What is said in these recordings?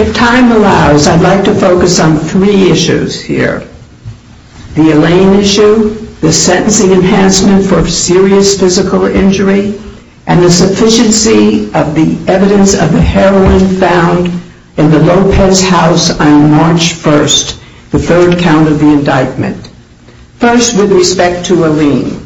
If time allows, I'd like to focus on three issues here. The Elaine issue, the sentencing enhancement for serious physical injury, and the sufficiency of the evidence of the heroin found in the Lopez House on March 1, the third count of the indictment. First, with respect to Elaine,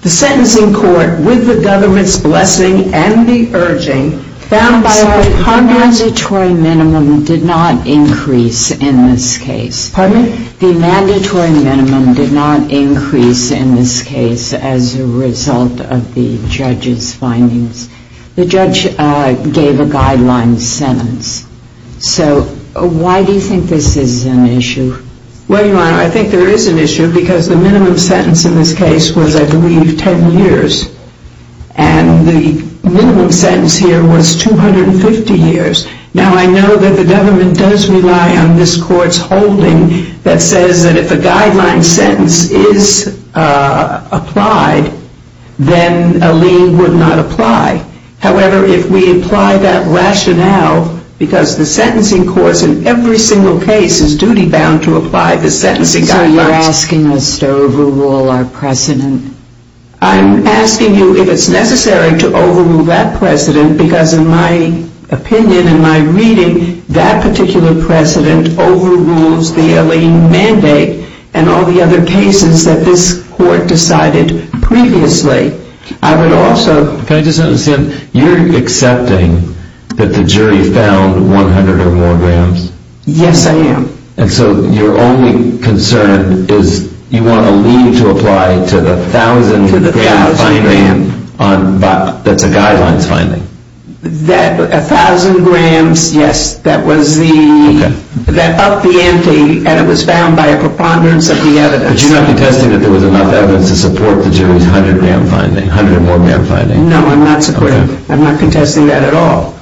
the sentencing court, with the government's blessing and the urging, found that the mandatory minimum did not increase in this case as a result of the judge's findings. The judge gave a guideline sentence. So, why do you think this is an issue? Well, Your Honor, I think there is an issue because the minimum sentence in this case was, I believe, 10 years. And the minimum sentence here was 250 years. Now, I know that the government does rely on this court's holding that says that if a guideline sentence is applied, then Elaine would not apply. However, if we apply that rationale, because the sentencing courts in every single case is duty-bound to apply the sentencing guidelines. So, you're asking us to overrule our precedent? I'm asking you if it's necessary to overrule that precedent, because in my opinion, in my reading, that particular precedent overrules the Elaine mandate and all the other cases that this court decided previously. I would also... Can I just understand? You're accepting that the jury found 100 or more grams? Yes, I am. And so, your only concern is you want a lien to apply to the 1,000-gram finding that's a guidelines finding? That 1,000 grams, yes, that was the... Okay. That upped the ante, and it was found by a preponderance of the evidence. But you're not contesting that there was enough evidence to support the jury's 100-gram finding, 100 or more-gram finding? No, I'm not supporting... Okay. I'm not contesting that at all.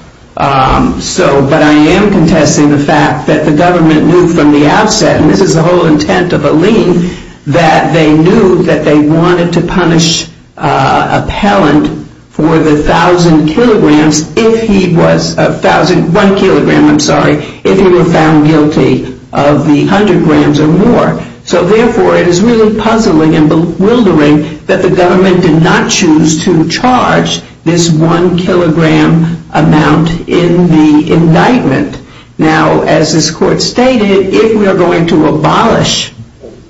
So, but I am contesting the fact that the government knew from the outset, and this is the whole intent of a lien, that they knew that they wanted to punish appellant for the 1,000 kilograms if he was... 1 kilogram, I'm sorry, if he were found guilty of the 100 grams or more. So, therefore, it is really puzzling and bewildering that the government did not choose to charge this 1 kilogram amount in the indictment. Now, as this court stated, if we are going to abolish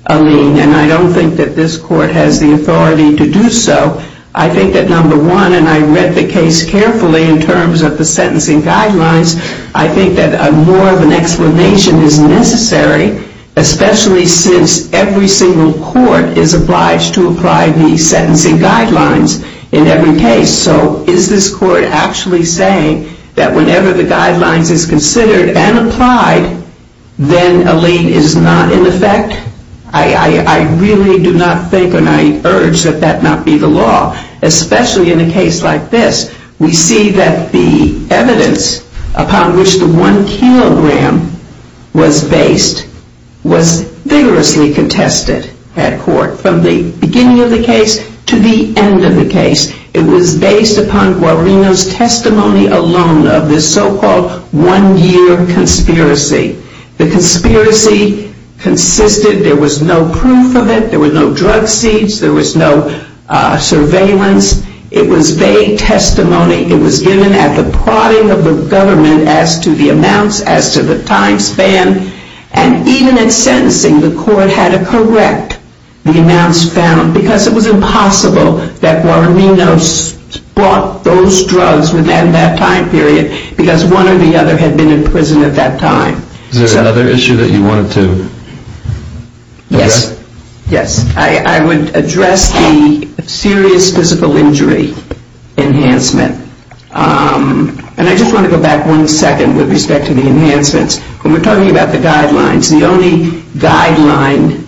a lien, and I don't think that this court has the authority to do so, I think that, number one, and I read the case carefully in terms of the sentencing guidelines, I think that more of an explanation is necessary, especially since every single court is obliged to apply the sentencing guidelines in every case. So, is this court actually saying that whenever the guidelines is considered and applied, then a lien is not in effect? I really do not think and I urge that that not be the law, especially in a case like this. We see that the evidence upon which the 1 kilogram was based was vigorously contested at court from the beginning of the case to the end of the case. It was based upon Guarino's testimony alone of this so-called one-year conspiracy. The conspiracy consisted, there was no proof of it, there were no drug seeds, there was no surveillance. It was vague testimony. It was given at the prodding of the government as to the amounts, as to the time span, and even at sentencing, the court had to correct the amounts found because it was impossible that Guarino bought those drugs within that time period because one or the other had been in prison at that time. Is there another issue that you wanted to address? Yes. Yes. I would address the serious physical injury enhancement. And I just want to go back one second with respect to the enhancements. When we're talking about the guidelines, the only guideline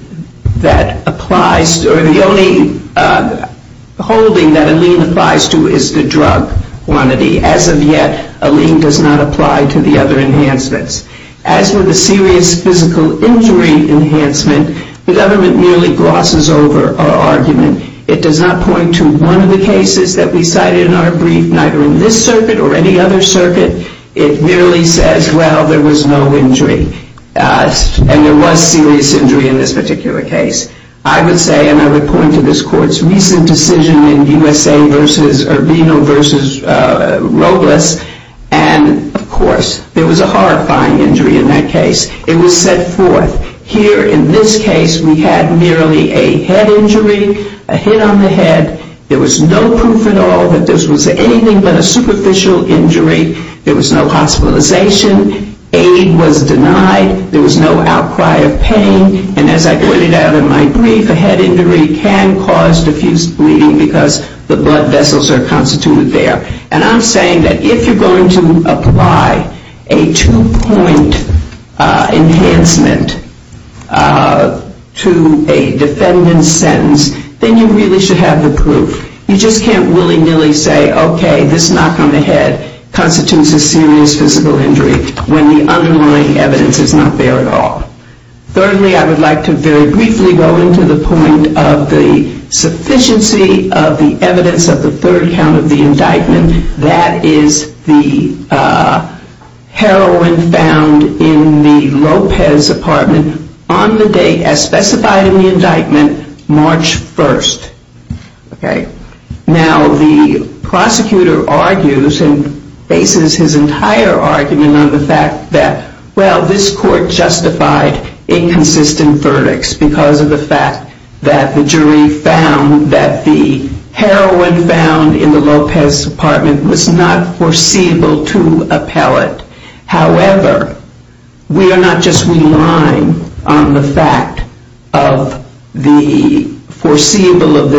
that applies or the only holding that a lien applies to is the drug quantity. As of yet, a lien does not apply to the other enhancements. As for the serious physical injury enhancement, the government merely glosses over our argument. It does not point to one of the cases that we cited in our brief, neither in this circuit or any other circuit. It merely says, well, there was no injury. And there was serious injury in this particular case. I would say, and I would point to this court's recent decision in USA versus, or Guarino versus Robles, and of course, there was a horrifying injury in that case. It was set forth. Here in this case, we had merely a head injury, a hit on the head. There was no proof at all that this was anything but a superficial injury. There was no hospitalization. Aid was denied. There was no outcry of pain. And as I pointed out in my brief, a head injury can cause diffuse bleeding because the blood vessels are constituted there. And I'm saying that if you're going to apply a two-point enhancement to a defendant's sentence, then you really should have the proof. You just can't willy-nilly say, okay, this knock on the head constitutes a serious physical injury when the underlying evidence is not there at all. Thirdly, I would like to very briefly go into the point of the sufficiency of the evidence of the third count of the indictment. That is the heroin found in the Lopez apartment on the date as specified in the indictment, March 1st. Now, the prosecutor argues and bases his entire argument on the fact that, well, this court found in the Lopez apartment was not foreseeable to appellate. However, we are not just relying on the fact of the foreseeability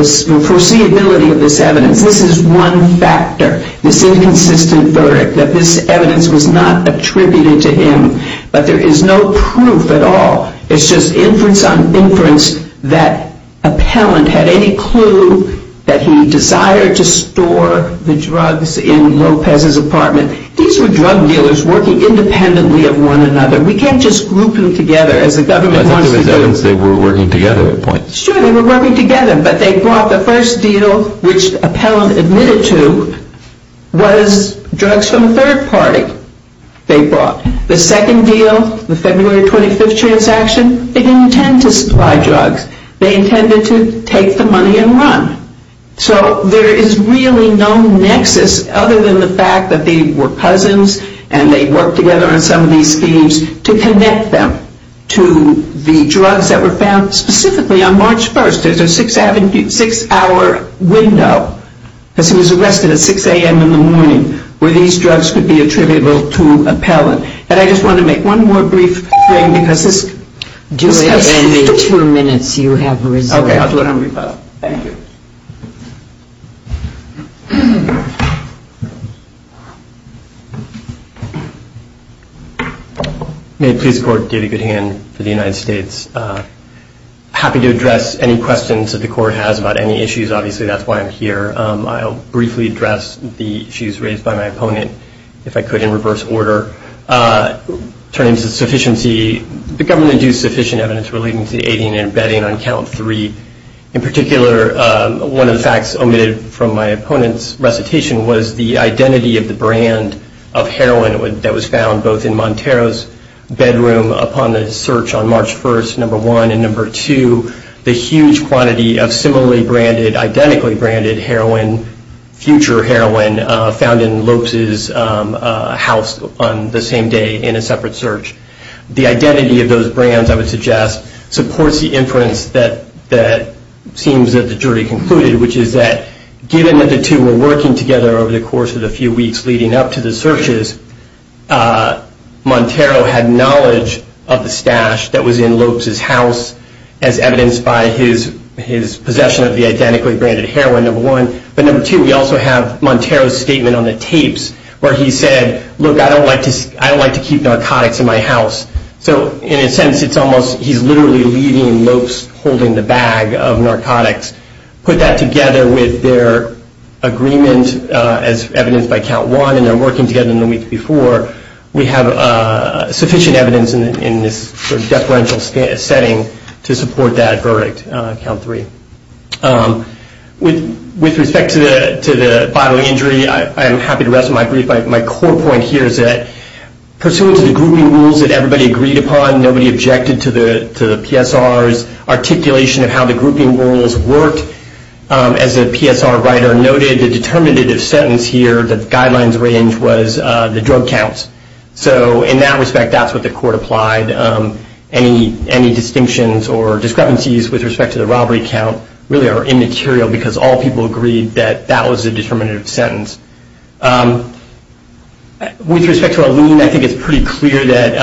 of this evidence. This is one factor, this inconsistent verdict, that this evidence was not attributed to him. But there is no proof at all. It's just inference on inference that appellant had any clue that he desired to store the drugs in Lopez's apartment. These were drug dealers working independently of one another. We can't just group them together as the government wants to do. They were working together at points. Sure, they were working together. But they brought the first deal, which appellant admitted to, was drugs from a third party. They brought. The second deal, the February 25th transaction, they didn't intend to supply drugs. They intended to take the money and run. So there is really no nexus other than the fact that they were cousins and they worked together on some of these schemes to connect them to the drugs that were found specifically on March 1st. There's a six hour window because he was arrested at 6 a.m. in the morning where these drugs could be attributable to appellant. And I just want to make one more brief thing. Do it in the two minutes you have reserved. Okay, I'll do it on rebuttal. Thank you. May it please the court, David Goodhand for the United States. Happy to address any questions that the court has about any issues. Obviously, that's why I'm here. I'll briefly address the issues raised by my opponent, if I could, in reverse order. Turning to sufficiency, the government induced sufficient evidence relating to the aiding and abetting on count three. In particular, one of the facts omitted from my opponent's recitation was the identity of the brand of heroin that was found both in Montero's bedroom upon the search on March 1st, number one, and number two. The huge quantity of similarly branded, identically branded heroin, future heroin, found in Lopes' house on the same day in a separate search. The identity of those brands, I would suggest, supports the inference that seems that the jury concluded, which is that given that the two were working together over the course of the few weeks leading up to the searches, Montero had knowledge of the stash that was in Lopes' house as evidenced by his possession of the identically branded heroin, number one. But number two, we also have Montero's statement on the tapes where he said, look, I don't like to keep narcotics in my house. So in a sense, it's almost he's literally leaving Lopes holding the bag of narcotics. Put that together with their agreement as evidenced by count one and their working together in the week before, we have sufficient evidence in this deferential setting to support that verdict, count three. With respect to the bodily injury, I'm happy to rest my brief. My core point here is that pursuant to the grouping rules that everybody agreed upon, nobody objected to the PSR's articulation of how the grouping rules worked. As the PSR writer noted, the determinative sentence here, the guidelines range was the drug counts. So in that respect, that's what the court applied. Any distinctions or discrepancies with respect to the robbery count really are immaterial because all people agreed that that was a determinative sentence. With respect to a lien, I think it's pretty clear that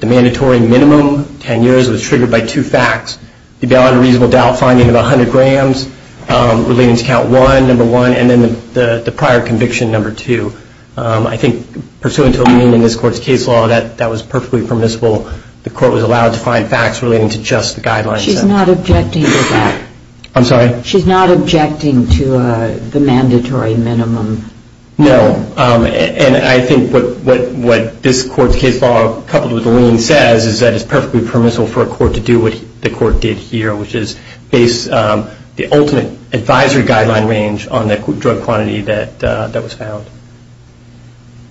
the mandatory minimum, 10 years, was triggered by two facts. The valid and reasonable doubt finding of 100 grams relating to count one, number one, and then the prior conviction, number two. I think pursuant to a lien in this court's case law, that was perfectly permissible. The court was allowed to find facts relating to just the guidelines. She's not objecting to that. I'm sorry? She's not objecting to the mandatory minimum. No. And I think what this court's case law, coupled with the lien, says is that it's perfectly permissible for a court to do what the court did here, which is base the ultimate advisory guideline range on the drug quantity that was found.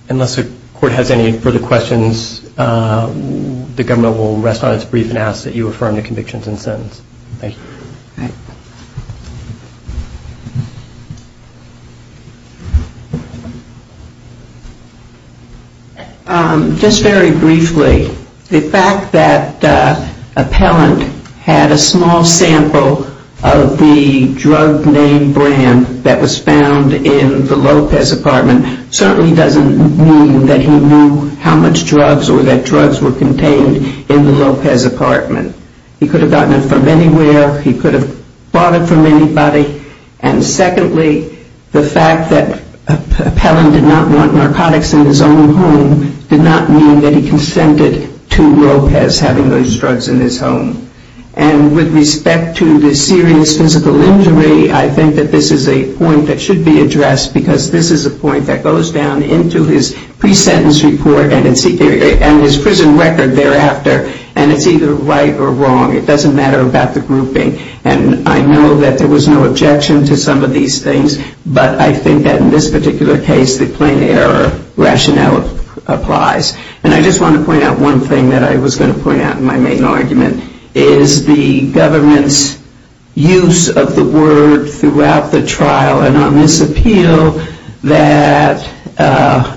Unless the court has any further questions, the government will rest on its brief and ask that you affirm the convictions and sentence. Thank you. All right. Just very briefly, the fact that Appellant had a small sample of the drug name brand that was found in the Lopez apartment certainly doesn't mean that he knew how much drugs or that drugs were contained in the Lopez apartment. He could have gotten it from anywhere. He could have bought it from anybody. And secondly, the fact that Appellant did not want narcotics in his own home did not mean that he consented to Lopez having those drugs in his home. And with respect to the serious physical injury, I think that this is a point that should be addressed because this is a point that goes down into his pre-sentence report and his prison record thereafter. And it's either right or wrong. It doesn't matter about the grouping. And I know that there was no objection to some of these things, but I think that in this particular case, the plain error rationale applies. And I just want to point out one thing that I was going to point out in my main argument is the government's use of the word throughout the trial and on this appeal that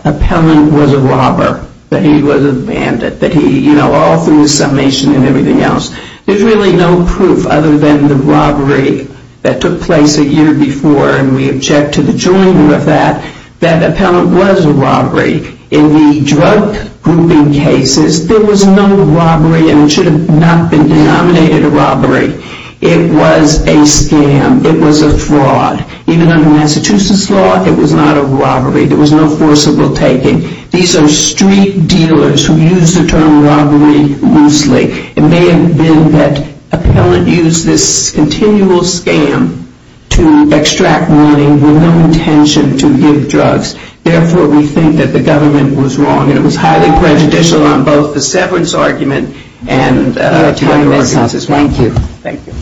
Appellant was a robber, that he was a bandit, that he, you know, all through the summation and everything else, there's really no proof other than the robbery that took place a year before, and we object to the joining of that, that Appellant was a robbery. In the drug grouping cases, there was no robbery and it should have not been denominated a robbery. It was a scam. It was a fraud. Even under Massachusetts law, it was not a robbery. There was no forcible taking. These are street dealers who use the term robbery loosely. It may have been that Appellant used this continual scam to extract money with no intention to give drugs. Therefore, we think that the government was wrong and it was highly prejudicial on both the severance argument and the other arguments as well. Thank you. Thank you.